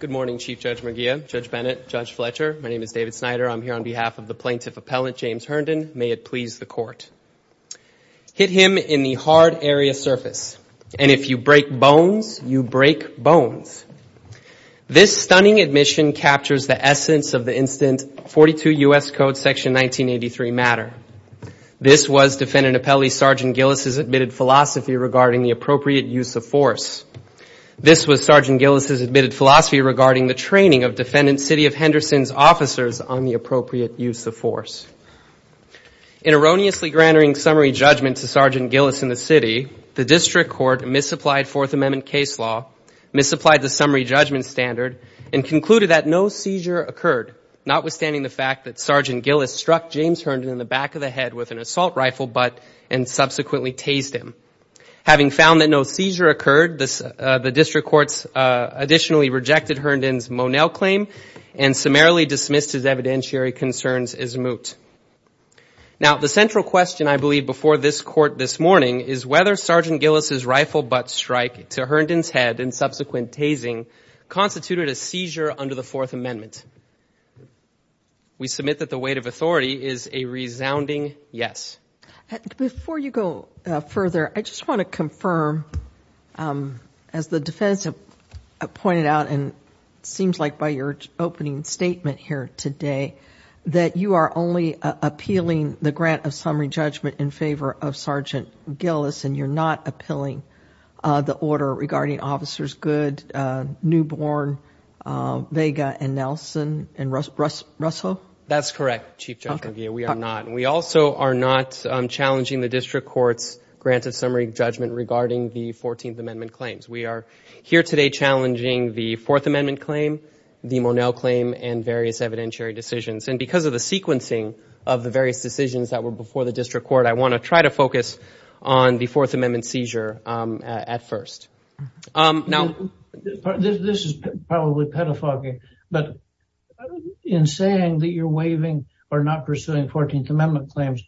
Good morning, Chief Judge McGeough, Judge Bennett, Judge Fletcher. My name is David Snyder. I'm here on behalf of the plaintiff appellant, James Herndon. May it please the court. Hit him in the hard area surface, and if you break bones, you break bones. This stunning admission captures the essence of the instant 42 U.S. Code Section 1983 matter. This was Defendant Appellee Sergeant Gillis' admitted philosophy regarding the appropriate use of force. This was Sergeant Gillis' admitted philosophy regarding the training of Defendant City of Henderson's officers on the appropriate use of force. In erroneously granting summary judgment to Sergeant Gillis in the city, the district court misapplied Fourth Amendment case law, misapplied the summary judgment standard, and concluded that no seizure occurred, notwithstanding the fact that Sergeant Gillis struck James Herndon in the back of the head with an assault rifle butt and subsequently tased him. Having found that no seizure occurred, the district courts additionally rejected Herndon's Monell claim and summarily dismissed his evidentiary concerns as moot. Now, the central question, I believe, before this court this morning is whether Sergeant Gillis' rifle butt strike to Herndon's head and subsequent tasing constituted a seizure under the Fourth Amendment. We submit that the weight of authority is a resounding yes. Before you go further, I just want to confirm, as the defense pointed out and seems like by your opening statement here today, that you are only appealing the grant of summary judgment in favor of Sergeant Gillis and you're not appealing the order regarding Officers Good, Newborn, Vega, and Nelson and Russo? That's correct, Chief Judge McGee. We are not. We also are not challenging the district court's grant of summary judgment regarding the Fourteenth Amendment claims. We are here today challenging the Fourth Amendment claim, the Monell claim, and various evidentiary decisions. And because of the sequencing of the various decisions that were before the This is probably pedophilic, but in saying that you're waiving or not pursuing Fourteenth Amendment claims,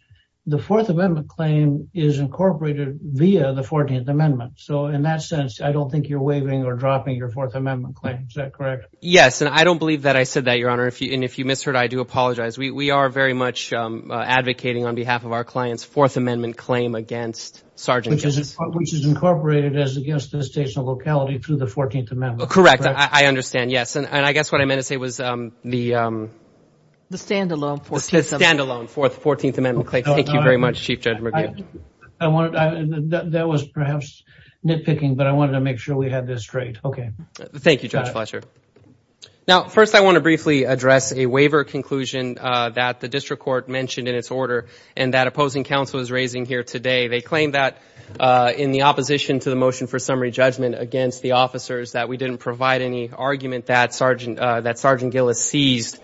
the Fourth Amendment claim is incorporated via the Fourteenth Amendment. So in that sense, I don't think you're waiving or dropping your Fourth Amendment claim. Is that correct? Yes, and I don't believe that I said that, Your Honor. And if you misheard, I do apologize. We are very much advocating on behalf of our clients Fourth Amendment claim against Sergeant Gillis, which is incorporated as against the state's locality through the Fourteenth Amendment. Correct. I understand. Yes. And I guess what I meant to say was the standalone Fourteenth Amendment claim. Thank you very much, Chief Judge McGee. That was perhaps nitpicking, but I wanted to make sure we had this straight. Okay. Thank you, Judge Fletcher. Now, first, I want to briefly address a waiver conclusion that the district court mentioned in its order and that opposing counsel is raising here today. They claim that in the opposition to the motion for summary judgment against the officers, that we didn't provide any argument that Sergeant Gillis seized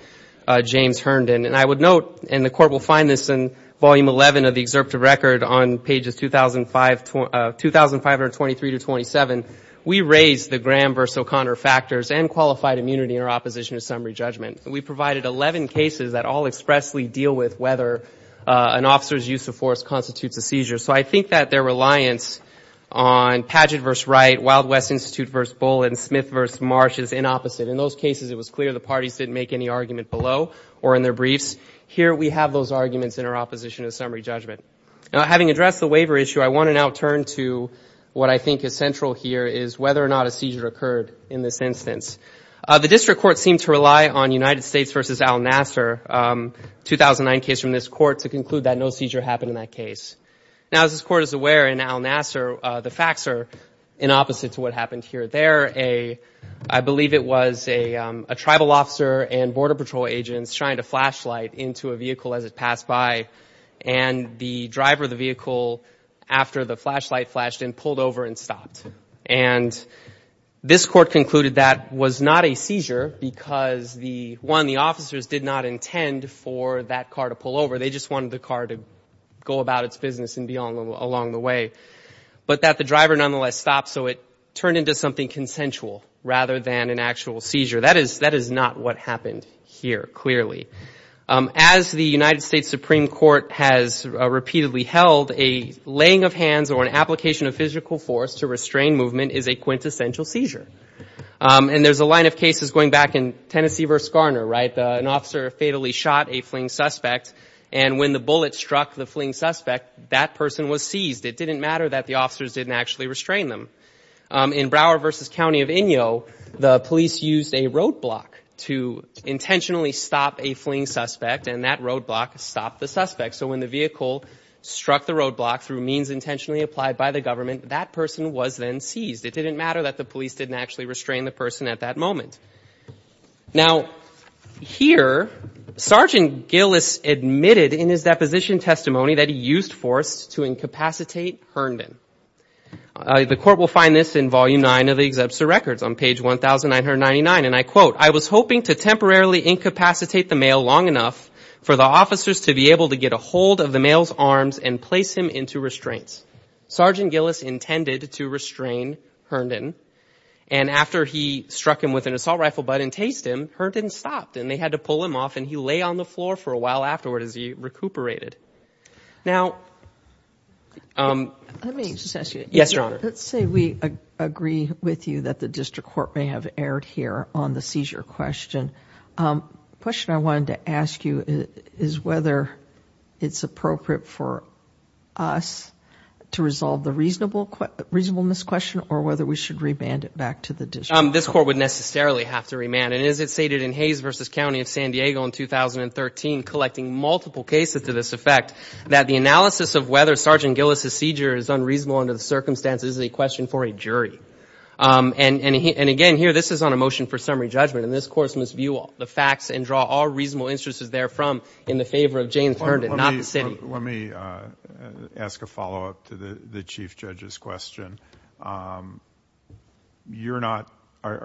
James Herndon. And I would note, and the court will find this in Volume 11 of the excerpt of record on pages 2,523 to 2,7, we raised the Graham versus O'Connor factors and qualified immunity in our opposition to summary judgment. We provided 11 cases that all expressly deal with whether an officer's use of force constitutes a seizure. So I think that their reliance on Padgett versus Wright, Wild West Institute versus Bull, and Smith versus Marsh is inopposite. In those cases, it was clear the parties didn't make any argument below or in their briefs. Here, we have those arguments in our opposition to summary judgment. Now, having addressed the waiver issue, I want to now turn to what I think is central here, is whether or not a seizure occurred in this instance. The district court seemed to rely on United States versus Al Nasser 2009 case from this court to conclude that no seizure happened in that case. Now, as this court is aware, in Al Nasser, the facts are inopposite to what happened here. There, I believe it was a tribal officer and border patrol agents trying to flashlight into a vehicle as it passed by, and the driver of the vehicle, after the flashlight flashed in, pulled over and stopped. And this court concluded that was not a seizure because, one, the officers did not intend for that car to pull over. They just wanted the car to go about its business and be along the way. But that the driver nonetheless stopped, so it turned into something consensual rather than an actual seizure. That is not what happened here, clearly. As the United States Supreme Court has repeatedly held, a laying of hands or an application of physical force to restrain movement is a quintessential seizure. And there's a line of cases going back in Tennessee versus Garner, right? An officer fatally shot a fling suspect, and when the bullet struck the fling suspect, that person was seized. It didn't matter that the officers didn't actually restrain them. In Broward versus County of Inyo, the police used a roadblock to intentionally stop a fling suspect, and that roadblock stopped the suspect. So when the vehicle struck the roadblock through means intentionally applied by the government, that person was then seized. It didn't matter that the police didn't actually restrain the person at that moment. Now, here, Sergeant Gillis admitted in his deposition testimony that he used force to incapacitate Herndon. The court will find this in Volume 9 of the Exempter Records on page 1,999, and I quote, I was hoping to temporarily incapacitate the male long enough for the officers to be able to get a hold of the male's arms and place him into restraints. Sergeant Gillis intended to restrain Herndon, and after he struck him with an assault rifle butt and tased him, Herndon stopped, and they had to pull him off, and he lay on the floor for a while afterward as he recuperated. Now, let me just ask you, yes, Your Honor. Let's say we agree with you that the district court may have erred here on the seizure question. The question I wanted to ask you is whether it's appropriate for us to resolve the reasonableness question or whether we should remand it back to the district court. This court would necessarily have to remand, and as it stated in Hayes v. County of San Diego in 2013, collecting multiple cases to this effect, that the analysis of whether Sergeant Gillis' seizure is unreasonable under the circumstances is a question for a jury. And again, here, this is on a motion for summary judgment, and this court must view all the facts and draw all reasonable instances therefrom in the favor of James Herndon, not the city. Let me ask a follow-up to the Chief Judge's question. Are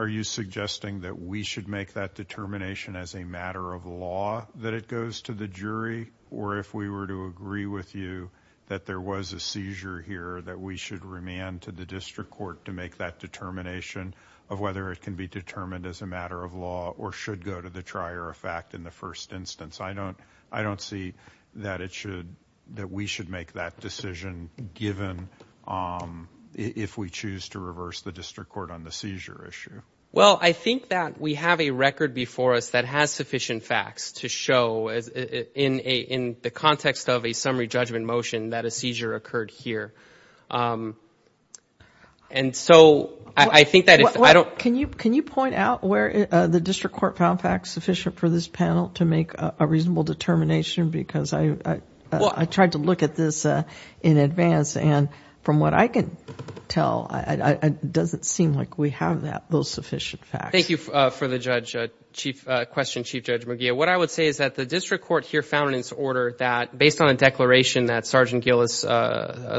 you suggesting that we should make that determination as a matter of law that it goes to the jury, or if we were to agree with you that there was a seizure here, that we should remand to the district court to make that determination of whether it can be determined as a matter of law or should go to the trier of fact in the first instance? I don't see that we should make that decision given if we choose to reverse the district court on the seizure issue. Well, I think that we have a record before us that has sufficient facts to show in the context of a summary judgment motion that a seizure occurred here. Can you point out where the district court found facts sufficient for this panel to make a reasonable determination? Because I tried to look at this in advance, and from what I can tell, it doesn't seem like we have those sufficient facts. Thank you for the question, Chief Judge McGeough. What I would say is that the district court here found in its order that, based on a declaration that Sergeant Gillis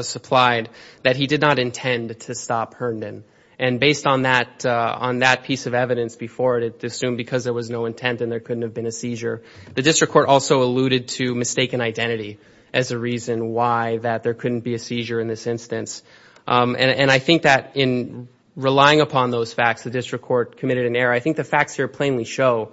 supplied, that he did not intend to stop Herndon. And based on that piece of evidence before it, it assumed because there was no intent and there couldn't have been a seizure. The district court also alluded to mistaken identity as a reason why that there couldn't be a seizure in this instance. And I think that in relying upon those facts, the district court committed an error. I think facts here plainly show,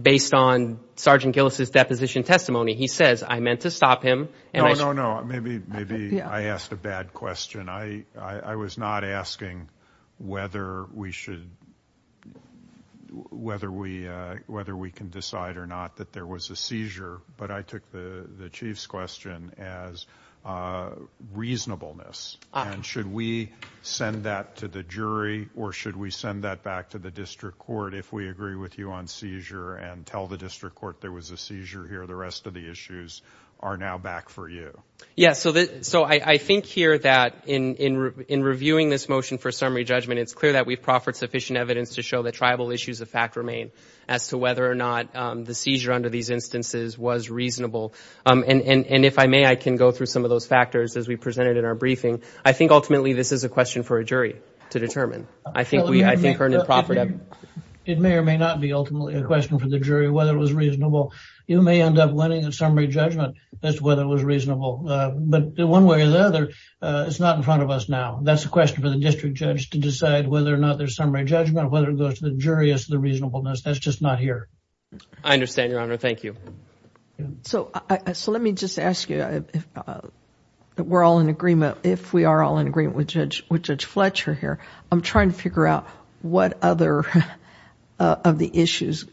based on Sergeant Gillis' deposition testimony, he says, I meant to stop him. No, no, no. Maybe I asked a bad question. I was not asking whether we should, whether we can decide or not that there was a seizure, but I took the Chief's question as reasonableness. And should we send that to the jury or should we send that back to the district court if we agree with you on seizure and tell the district court there was a seizure here, the rest of the issues are now back for you? Yes. So I think here that in reviewing this motion for summary judgment, it's clear that we've proffered sufficient evidence to show that tribal issues of fact remain as to whether or not the seizure under these instances was reasonable. And if I may, I can go through some of those factors as we presented in our briefing. I think ultimately this is a question for a jury to determine. I think we, I think, it may or may not be ultimately a question for the jury whether it was reasonable. You may end up winning a summary judgment as to whether it was reasonable. But one way or the other, it's not in front of us now. That's a question for the district judge to decide whether or not there's summary judgment, whether it goes to the jury as to the reasonableness. That's just not here. I understand, Your Honor. Thank you. So let me just ask you, if we're all in agreement, if we are all in agreement with Judge Fletcher here, I'm trying to figure out what other of the issues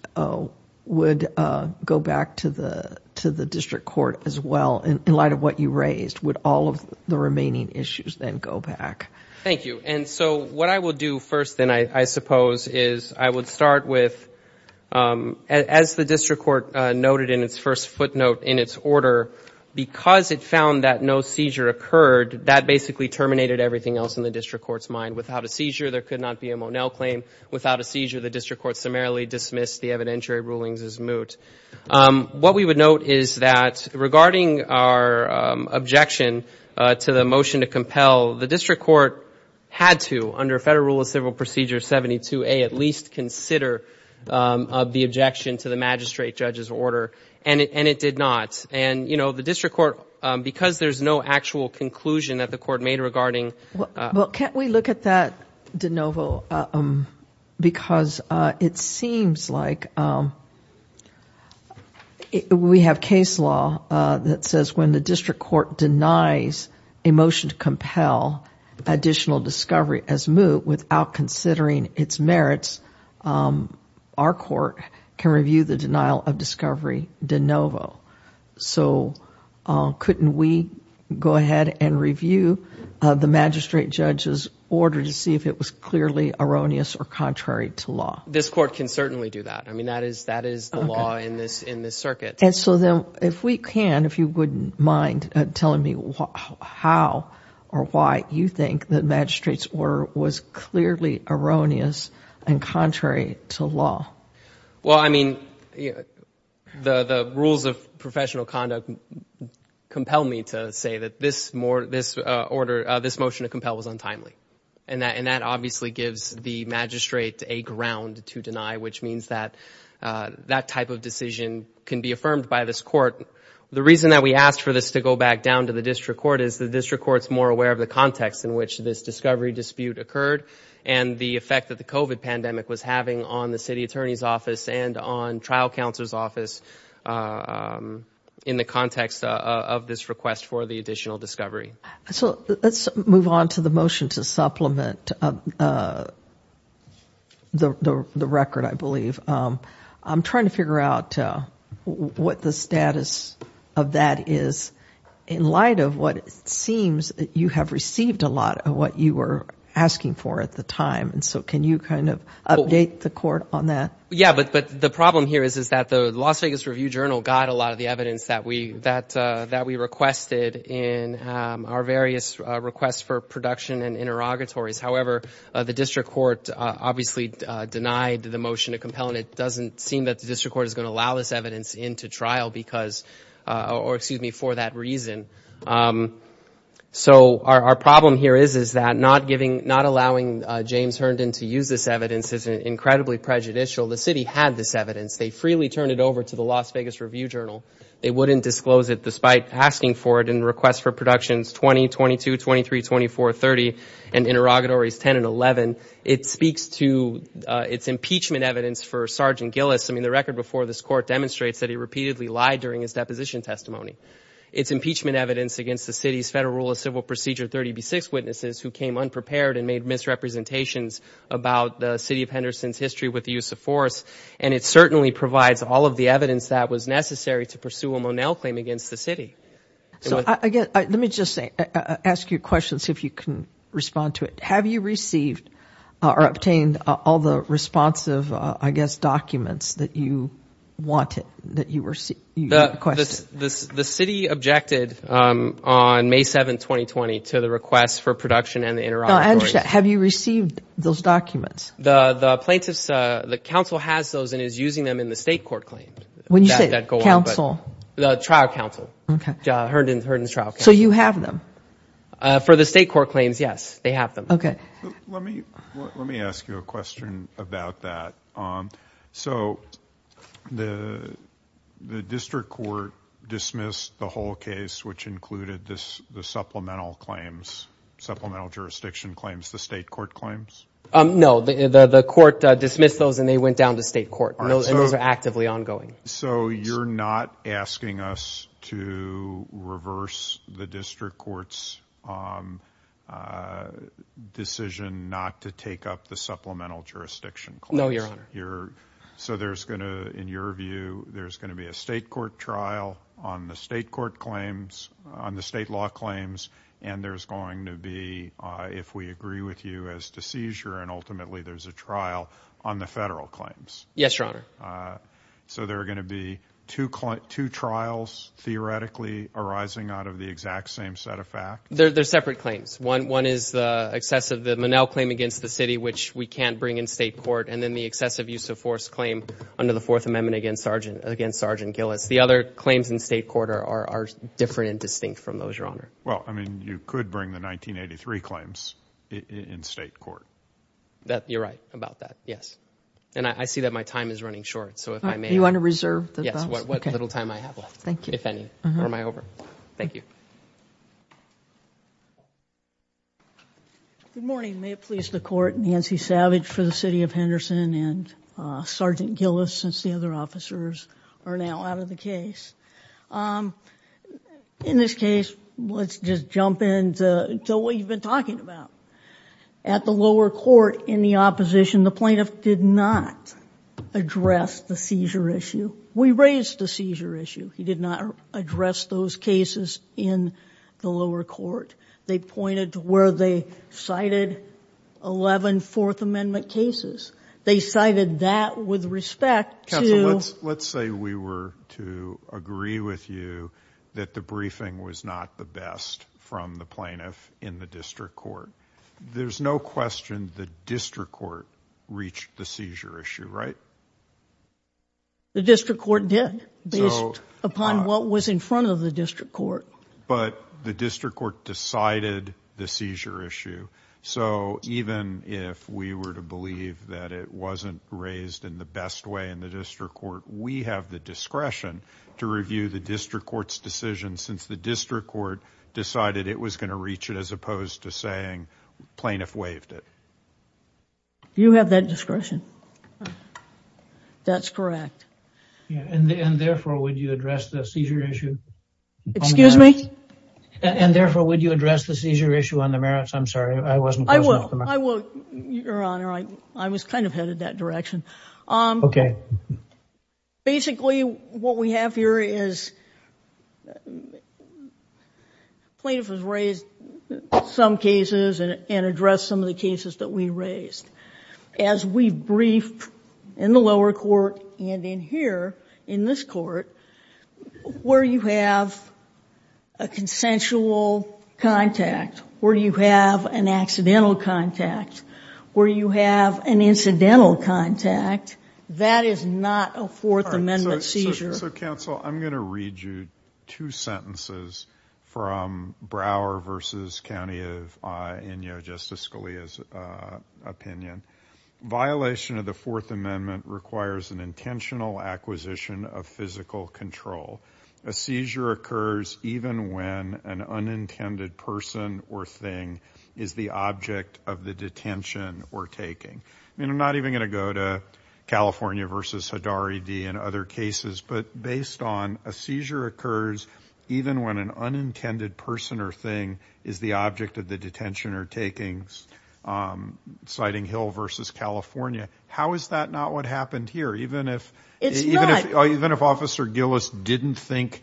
would go back to the district court as well in light of what you raised. Would all of the remaining issues then go back? Thank you. And so what I will do first then, I suppose, is I would start with, as the district court noted in its first footnote in its order, because it found that no seizure occurred, that basically terminated everything else in the district court's mind. Without a seizure, there could not be a Monell claim. Without a seizure, the district court summarily dismissed the evidentiary rulings as moot. What we would note is that regarding our objection to the motion to compel, the district court had to, under Federal Rule of Civil Procedure 72A, at least consider the objection to the magistrate judge's order, and it did not. And, you know, the district court, because there's no actual conclusion that the court made regarding... Well, can't we look at that, DeNovo, because it seems like we have case law that says when the district court denies a motion to compel, additional discovery as moot, without considering its merits, our court can review the denial of discovery, DeNovo. So couldn't we go ahead and review the magistrate judge's order to see if it was clearly erroneous or contrary to law? This court can certainly do that. I mean, that is the law in this circuit. And so then, if we can, if you wouldn't mind telling me how or why you think that magistrate's order was clearly erroneous and contrary to law. Well, I mean, the rules of professional conduct compel me to say that this order, this motion to compel was untimely. And that obviously gives the magistrate a ground to deny, which means that that type of decision can be affirmed by this court. The reason that we asked for this to go back down to the district court is the district court's more aware of the context in which this discovery dispute occurred and the effect that the COVID pandemic was having on the city attorney's office and on trial counsel's office in the context of this request for the additional discovery. So let's move on to the motion to supplement the record, I believe. I'm trying to figure out what the status of that is in light of what it seems that you have received a lot of what you were asking for at the time. And so can you kind of update the court on that? Yeah, but the problem here is that the Las Vegas Review-Journal got a lot of the evidence that we requested in our various requests for production and interrogatories. However, the district court obviously denied the motion to compel, and it doesn't seem that the district court is going to allow this evidence into trial because, or excuse me, for that reason. So our problem here is, is that not giving, not allowing James Herndon to use this evidence is incredibly prejudicial. The city had this evidence. They freely turned it over to the Las Vegas Review-Journal. They wouldn't disclose it despite asking for it in requests for productions 20, 22, 23, 24, 30, and interrogatories 10 and 11. It speaks to its impeachment evidence for Sergeant Gillis. I mean, the record before this court demonstrates that he repeatedly lied during his deposition testimony. Its impeachment evidence against the city's Federal Rule of Civil Procedure 30b-6 witnesses who came unprepared and made misrepresentations about the city of Henderson's history with the use of force. And it certainly provides all of the evidence that was necessary to convince the city. So, again, let me just say, ask you a question, see if you can respond to it. Have you received or obtained all the responsive, I guess, documents that you wanted, that you requested? The city objected on May 7, 2020, to the request for production and the interrogatories. No, I understand. Have you received those documents? The plaintiffs, the council has those and is using them in the state court claim that go on. When you say council? The trial council, Herndon's trial council. So, you have them? For the state court claims, yes, they have them. Okay. Let me ask you a question about that. So, the district court dismissed the whole case, which included the supplemental claims, supplemental jurisdiction claims, the state court claims? No, the court dismissed those and they went down to state court. And those are actively ongoing. So, you're not asking us to reverse the district court's decision not to take up the supplemental jurisdiction claims? No, Your Honor. So, there's going to, in your view, there's going to be a state court trial on the state court claims, on the state law claims, and there's going to be, if we agree with you as to seizure and ultimately there's a trial on the federal claims? Yes, Your Honor. So, there are going to be two trials, theoretically, arising out of the exact same set of facts? They're separate claims. One is the excess of the Monell claim against the city, which we can't bring in state court, and then the excessive use of force claim under the Fourth Amendment against Sergeant Gillis. The other claims in state court are different and distinct from those, Your Honor. Well, I mean, you could bring the 1983 claims in state court. You're right about that, yes. And I see that my time is running short, so if I may. You want to reserve the time? Yes, what little time I have left, if any, or am I over? Thank you. Good morning. May it please the Court, Nancy Savage for the City of Henderson and Sergeant Gillis, since the other officers are now out of the case. In this case, let's just jump in to what you've been talking about. At the lower court, in the opposition, the plaintiff did not address the seizure issue. We raised the seizure issue. He did not address those cases in the lower court. They pointed to where they cited 11 Fourth Amendment cases. They cited that with respect to— —the plaintiff in the district court. There's no question the district court reached the seizure issue, right? The district court did, based upon what was in front of the district court. But the district court decided the seizure issue. So even if we were to believe that it wasn't raised in the best way in the district court, we have the discretion to going to reach it, as opposed to saying plaintiff waived it. You have that discretion. That's correct. And therefore, would you address the seizure issue on the merits? Excuse me? And therefore, would you address the seizure issue on the merits? I'm sorry, I wasn't closing off the microphone. I will, I will, Your Honor. I was kind of headed that direction. Okay. Basically, what we have here is plaintiff has raised some cases and addressed some of the cases that we raised. As we briefed in the lower court and in here, in this court, where you have a consensual contact, where you have an accidental contact, where you have an incidental contact, that is not a Fourth Amendment seizure. So counsel, I'm going to read you two sentences from Brower v. County of Inyo, Justice Scalia's opinion. Violation of the Fourth Amendment requires an intentional acquisition of physical control. A seizure occurs even when an unintended person or thing is the object of the detention or taking. I mean, I'm not even going to go to California v. Hidari D. and other cases, but based on a seizure occurs even when an unintended person or thing is the object of the detention or taking, citing Hill v. California. How is that not what happened here? Even if Officer Gillis didn't think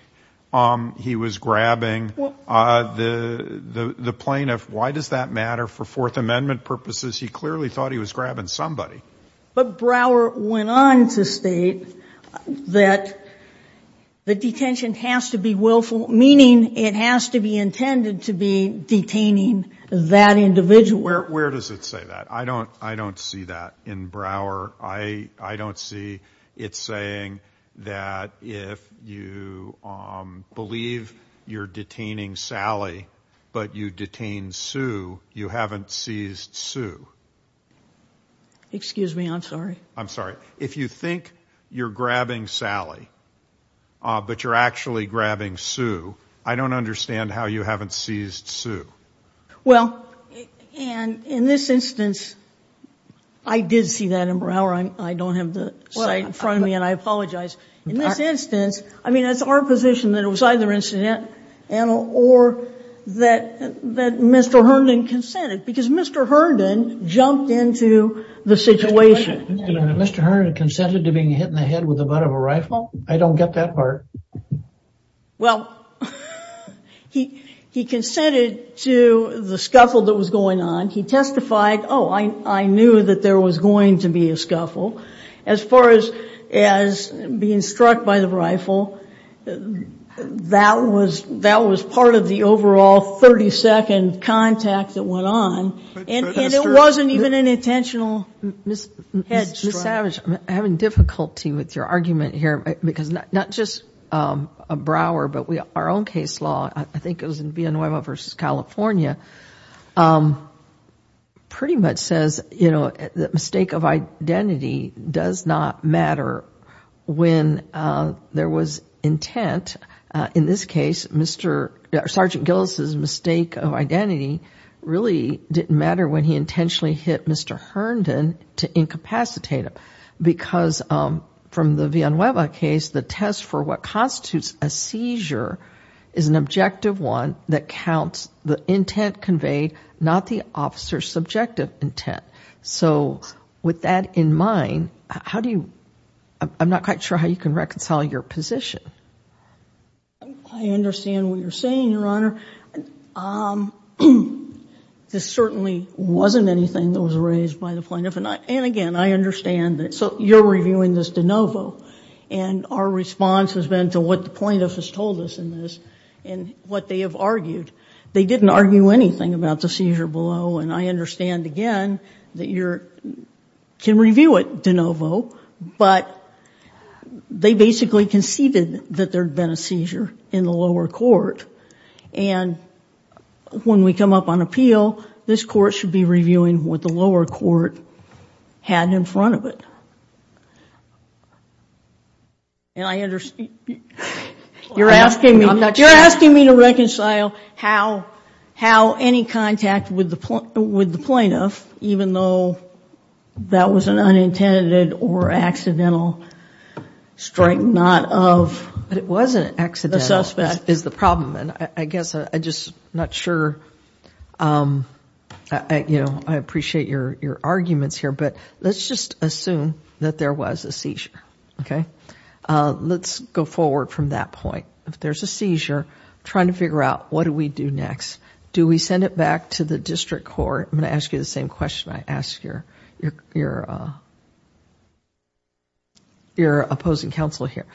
he was grabbing the plaintiff, why does that matter for Fourth Amendment purposes? He clearly thought he was grabbing somebody. But Brower went on to state that the detention has to be willful, meaning it has to be intended to be detaining that individual. Where does it say that? I don't see that in Brower. I don't see it saying that if you believe you're detaining Sally, but you detain Sue, you haven't seized Sue. Excuse me, I'm sorry. I'm sorry. If you think you're grabbing Sally, but you're actually grabbing Sue, I don't understand how you haven't seized Sue. Well, and in this instance, I did see that in Brower. I don't have the site in front of me, and I apologize. In this instance, I mean, it's our position that it was either incidental or that Mr. Herndon consented, because Mr. Herndon jumped into the situation. Mr. Herndon consented to being hit in the head with the butt of a rifle? I don't get that part. Well, he consented to the scuffle that was going on. As far as being struck by the rifle, that was part of the overall 30-second contact that went on, and it wasn't even an intentional head strike. Ms. Savage, I'm having difficulty with your argument here, because not just a Brower, but our own case law, I think it was in Villanueva versus California, pretty much says the mistake of identity does not matter when there was intent. In this case, Sergeant Gillis's mistake of identity really didn't matter when he intentionally hit Mr. Herndon to incapacitate him, because from the Villanueva case, the test for what constitutes a seizure is an objective one that counts the intent conveyed, not the officer's subjective intent. So with that in mind, I'm not quite sure how you can reconcile your position. I understand what you're saying, Your Honor. This certainly wasn't anything that was raised by the plaintiff, and again, I understand that. So you're reviewing this de novo, and our response has been to what the plaintiff has told us in this, and what they have argued. They didn't argue anything about the seizure below. And I understand, again, that you can review it de novo, but they basically conceded that there had been a seizure in the lower court. And when we come up on appeal, this court should be reviewing what the lower court had in front of it. And I understand... You're asking me... With the plaintiff, even though that was an unintended or accidental strike, not of... But it wasn't accidental, is the problem. And I guess, I'm just not sure... I appreciate your arguments here, but let's just assume that there was a seizure, okay? Let's go forward from that point. If there's a seizure, trying to figure out what do we do next? Do we send it back to the district court? I'm going to ask you the same question I ask your opposing counsel here.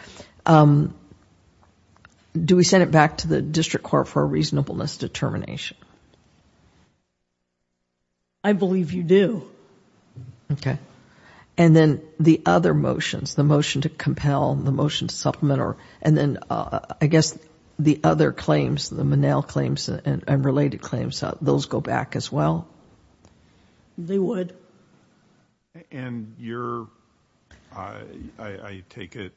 Do we send it back to the district court for a reasonableness determination? I believe you do. Okay. And then the other motions, the motion to compel, the motion to supplement, or... I guess the other claims, the Monell claims and related claims, those go back as well? They would. And you're... I take it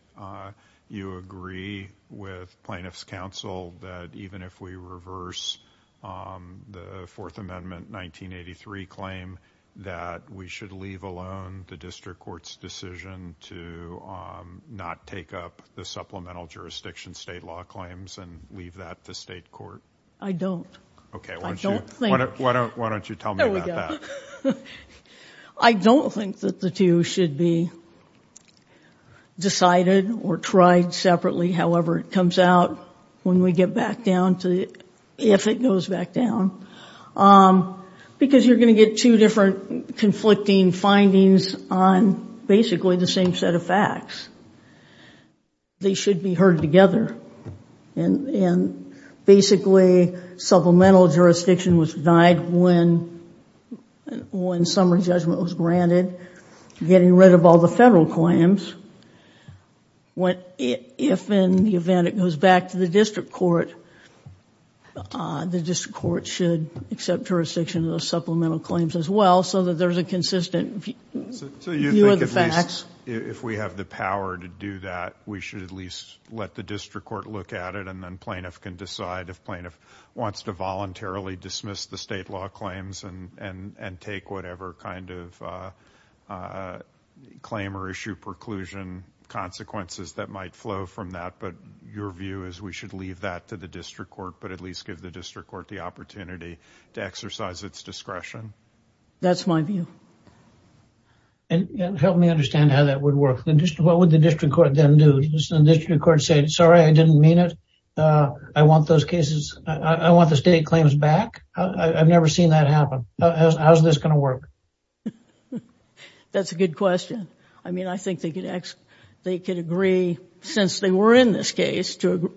you agree with plaintiff's counsel that even if we reverse the Fourth Amendment 1983 claim, that we should leave alone the district court's decision to not take up the supplemental jurisdiction state law claims and leave that to state court? I don't. Okay, why don't you tell me about that? I don't think that the two should be decided or tried separately, however it comes out, when we get back down to, if it goes back down, because you're going to get two different conflicting findings on basically the same set of facts. They should be heard together and basically supplemental jurisdiction was denied when summary judgment was granted, getting rid of all the federal claims, if in the event it goes back to the district court, the district court should accept jurisdiction of those supplemental claims as well so that there's a consistent view of the facts. So you think at least if we have the power to do that, we should at least let the district court look at it and then plaintiff can decide if plaintiff wants to voluntarily dismiss the state law claims and take whatever kind of claim or issue preclusion consequences that might flow from that, but your view is we should leave that to the district court, but at least give the district court the opportunity to exercise its discretion? That's my view. And help me understand how that would work. What would the district court then do? Does the district court say, sorry, I didn't mean it. I want those cases, I want the state claims back. I've never seen that happen. How's this going to work? That's a good question. I mean, I think they could agree, since they were in this case to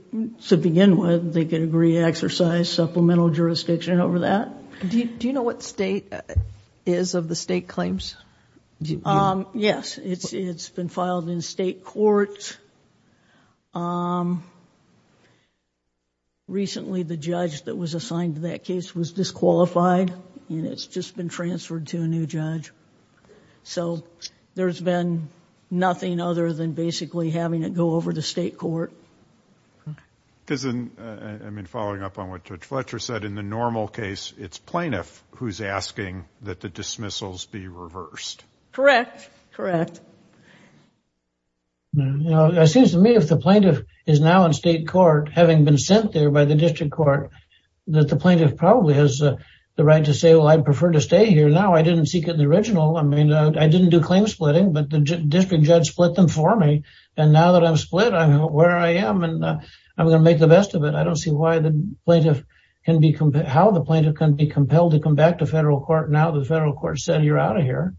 begin with, they could agree to exercise supplemental jurisdiction over that. Do you know what state is of the state claims? Yes, it's, it's been filed in state court. Recently, the judge that was assigned to that case was disqualified and it's just been transferred to a new judge. So there's been nothing other than basically having it go over to state court. Because in, I mean, following up on what Judge Fletcher said, in the normal case, it's plaintiff who's asking that the dismissals be reversed. Correct. Correct. You know, it seems to me if the plaintiff is now in state court, having been sent there by the district court, that the plaintiff probably has the right to say, well, I'd prefer to stay here now. I didn't seek it in the original. I mean, I didn't do claim splitting, but the district judge split them for me. And now that I'm split, I know where I am and I'm going to make the best of it. I don't see why the plaintiff can be, how the plaintiff can be compelled to come back to federal court now that the federal court said, you're out of here.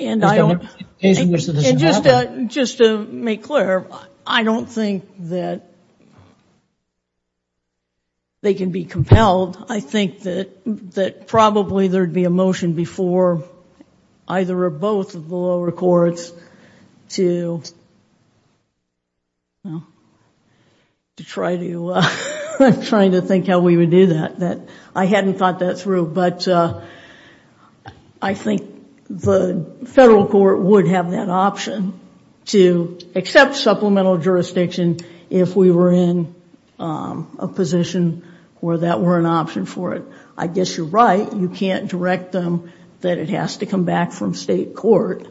And just to make clear, I don't think that they can be compelled. I think that, that probably there'd be a motion before either or both of the I'm trying to think how we would do that. That I hadn't thought that through, but I think the federal court would have that option to accept supplemental jurisdiction if we were in a position where that were an option for it. I guess you're right. You can't direct them that it has to come back from state court.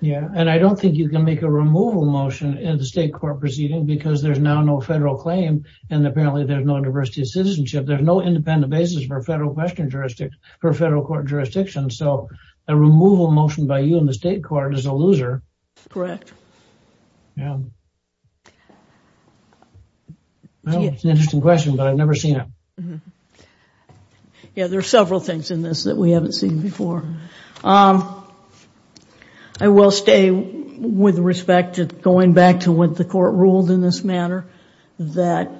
Yeah. And I don't think you can make a removal motion in the state court proceeding because there's now no federal claim. And apparently there's no diversity of citizenship. There's no independent basis for federal question jurisdiction, for federal court jurisdiction. So a removal motion by you in the state court is a loser. Correct. Yeah. Well, it's an interesting question, but I've never seen it. Yeah. There are several things in this that we haven't seen before. I will stay with respect to going back to what the court ruled in this manner, that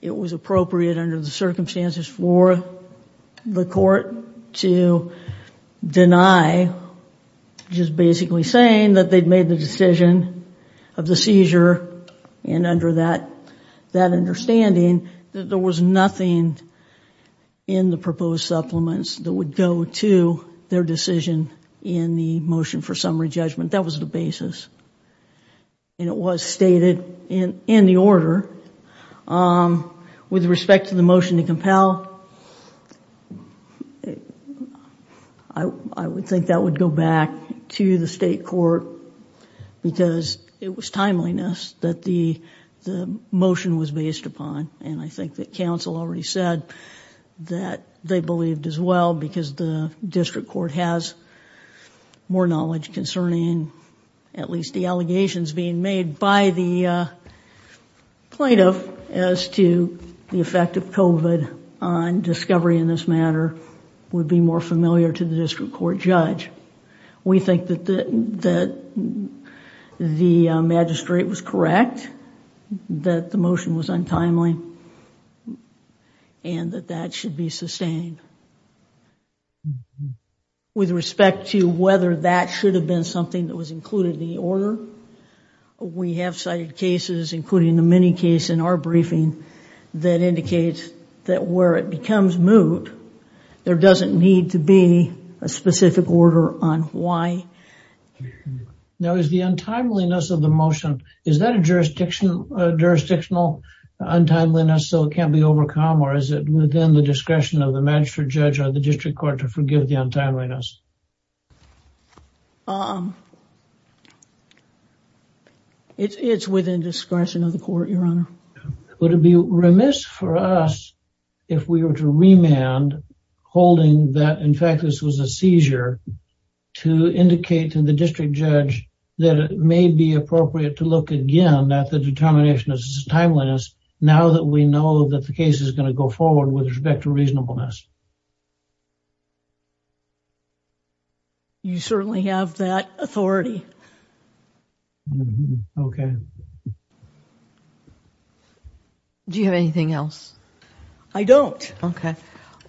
it was appropriate under the circumstances for the court to deny, just basically saying that they'd made the decision of the seizure and under that, that understanding that there was nothing in the proposed supplements that would go to their decision in the motion for summary judgment. That was the basis. And it was stated in the order with respect to the motion to compel, I would think that would go back to the state court because it was timeliness that the motion was based upon. And I think that council already said that they believed as well because the district court has more knowledge concerning at least the allegations being made by the plaintiff as to the effect of COVID on discovery in this matter would be more familiar to the district court judge. We think that the magistrate was correct, that the motion was untimely and that that should be sustained. With respect to whether that should have been something that was included in the order, we have cited cases, including the mini case in our briefing that indicates that where it becomes moot, there doesn't need to be a specific order on why. Now is the untimeliness of the motion, is that a jurisdictional untimeliness so it can't be overcome? Or is it within the discretion of the magistrate judge or the district court to forgive the untimeliness? It's within discretion of the court, Your Honor. Would it be remiss for us if we were to remand holding that, in fact, this was a seizure to indicate to the district judge that it may be appropriate to look again that the determination is timeless now that we know that the case is going to go forward with respect to reasonableness? You certainly have that authority. Okay. Do you have anything else? I don't. Okay.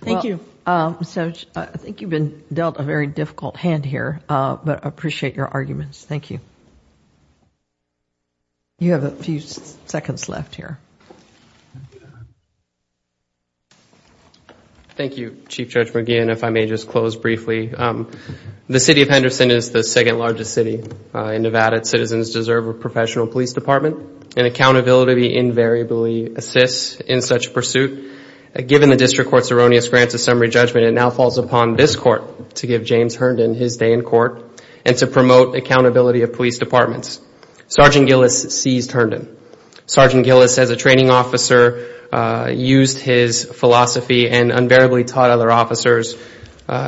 Thank you. I think you've been dealt a very difficult hand here, but I appreciate your arguments. Thank you. You have a few seconds left here. Thank you, Chief Judge McGeehan. If I may just close briefly. The city of Henderson is the second largest city in Nevada. Citizens deserve a professional police department and accountability invariably assists in such pursuit. Given the district court's erroneous grant of summary judgment, it now falls upon this court to give James Herndon his day in court and to promote accountability of police departments. Sergeant Gillis seized Herndon. Sergeant Gillis, as a training officer, used his philosophy and unbearably taught other officers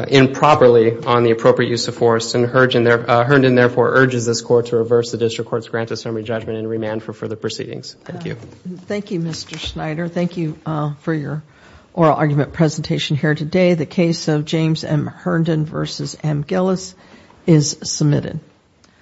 improperly on the appropriate use of force. And Herndon therefore urges this court to reverse the district court's grant of summary judgment and remand for further proceedings. Thank you. Thank you, Mr. Schneider. Thank you for your oral argument presentation here today. The case of James M. Herndon v. M. Gillis is submitted.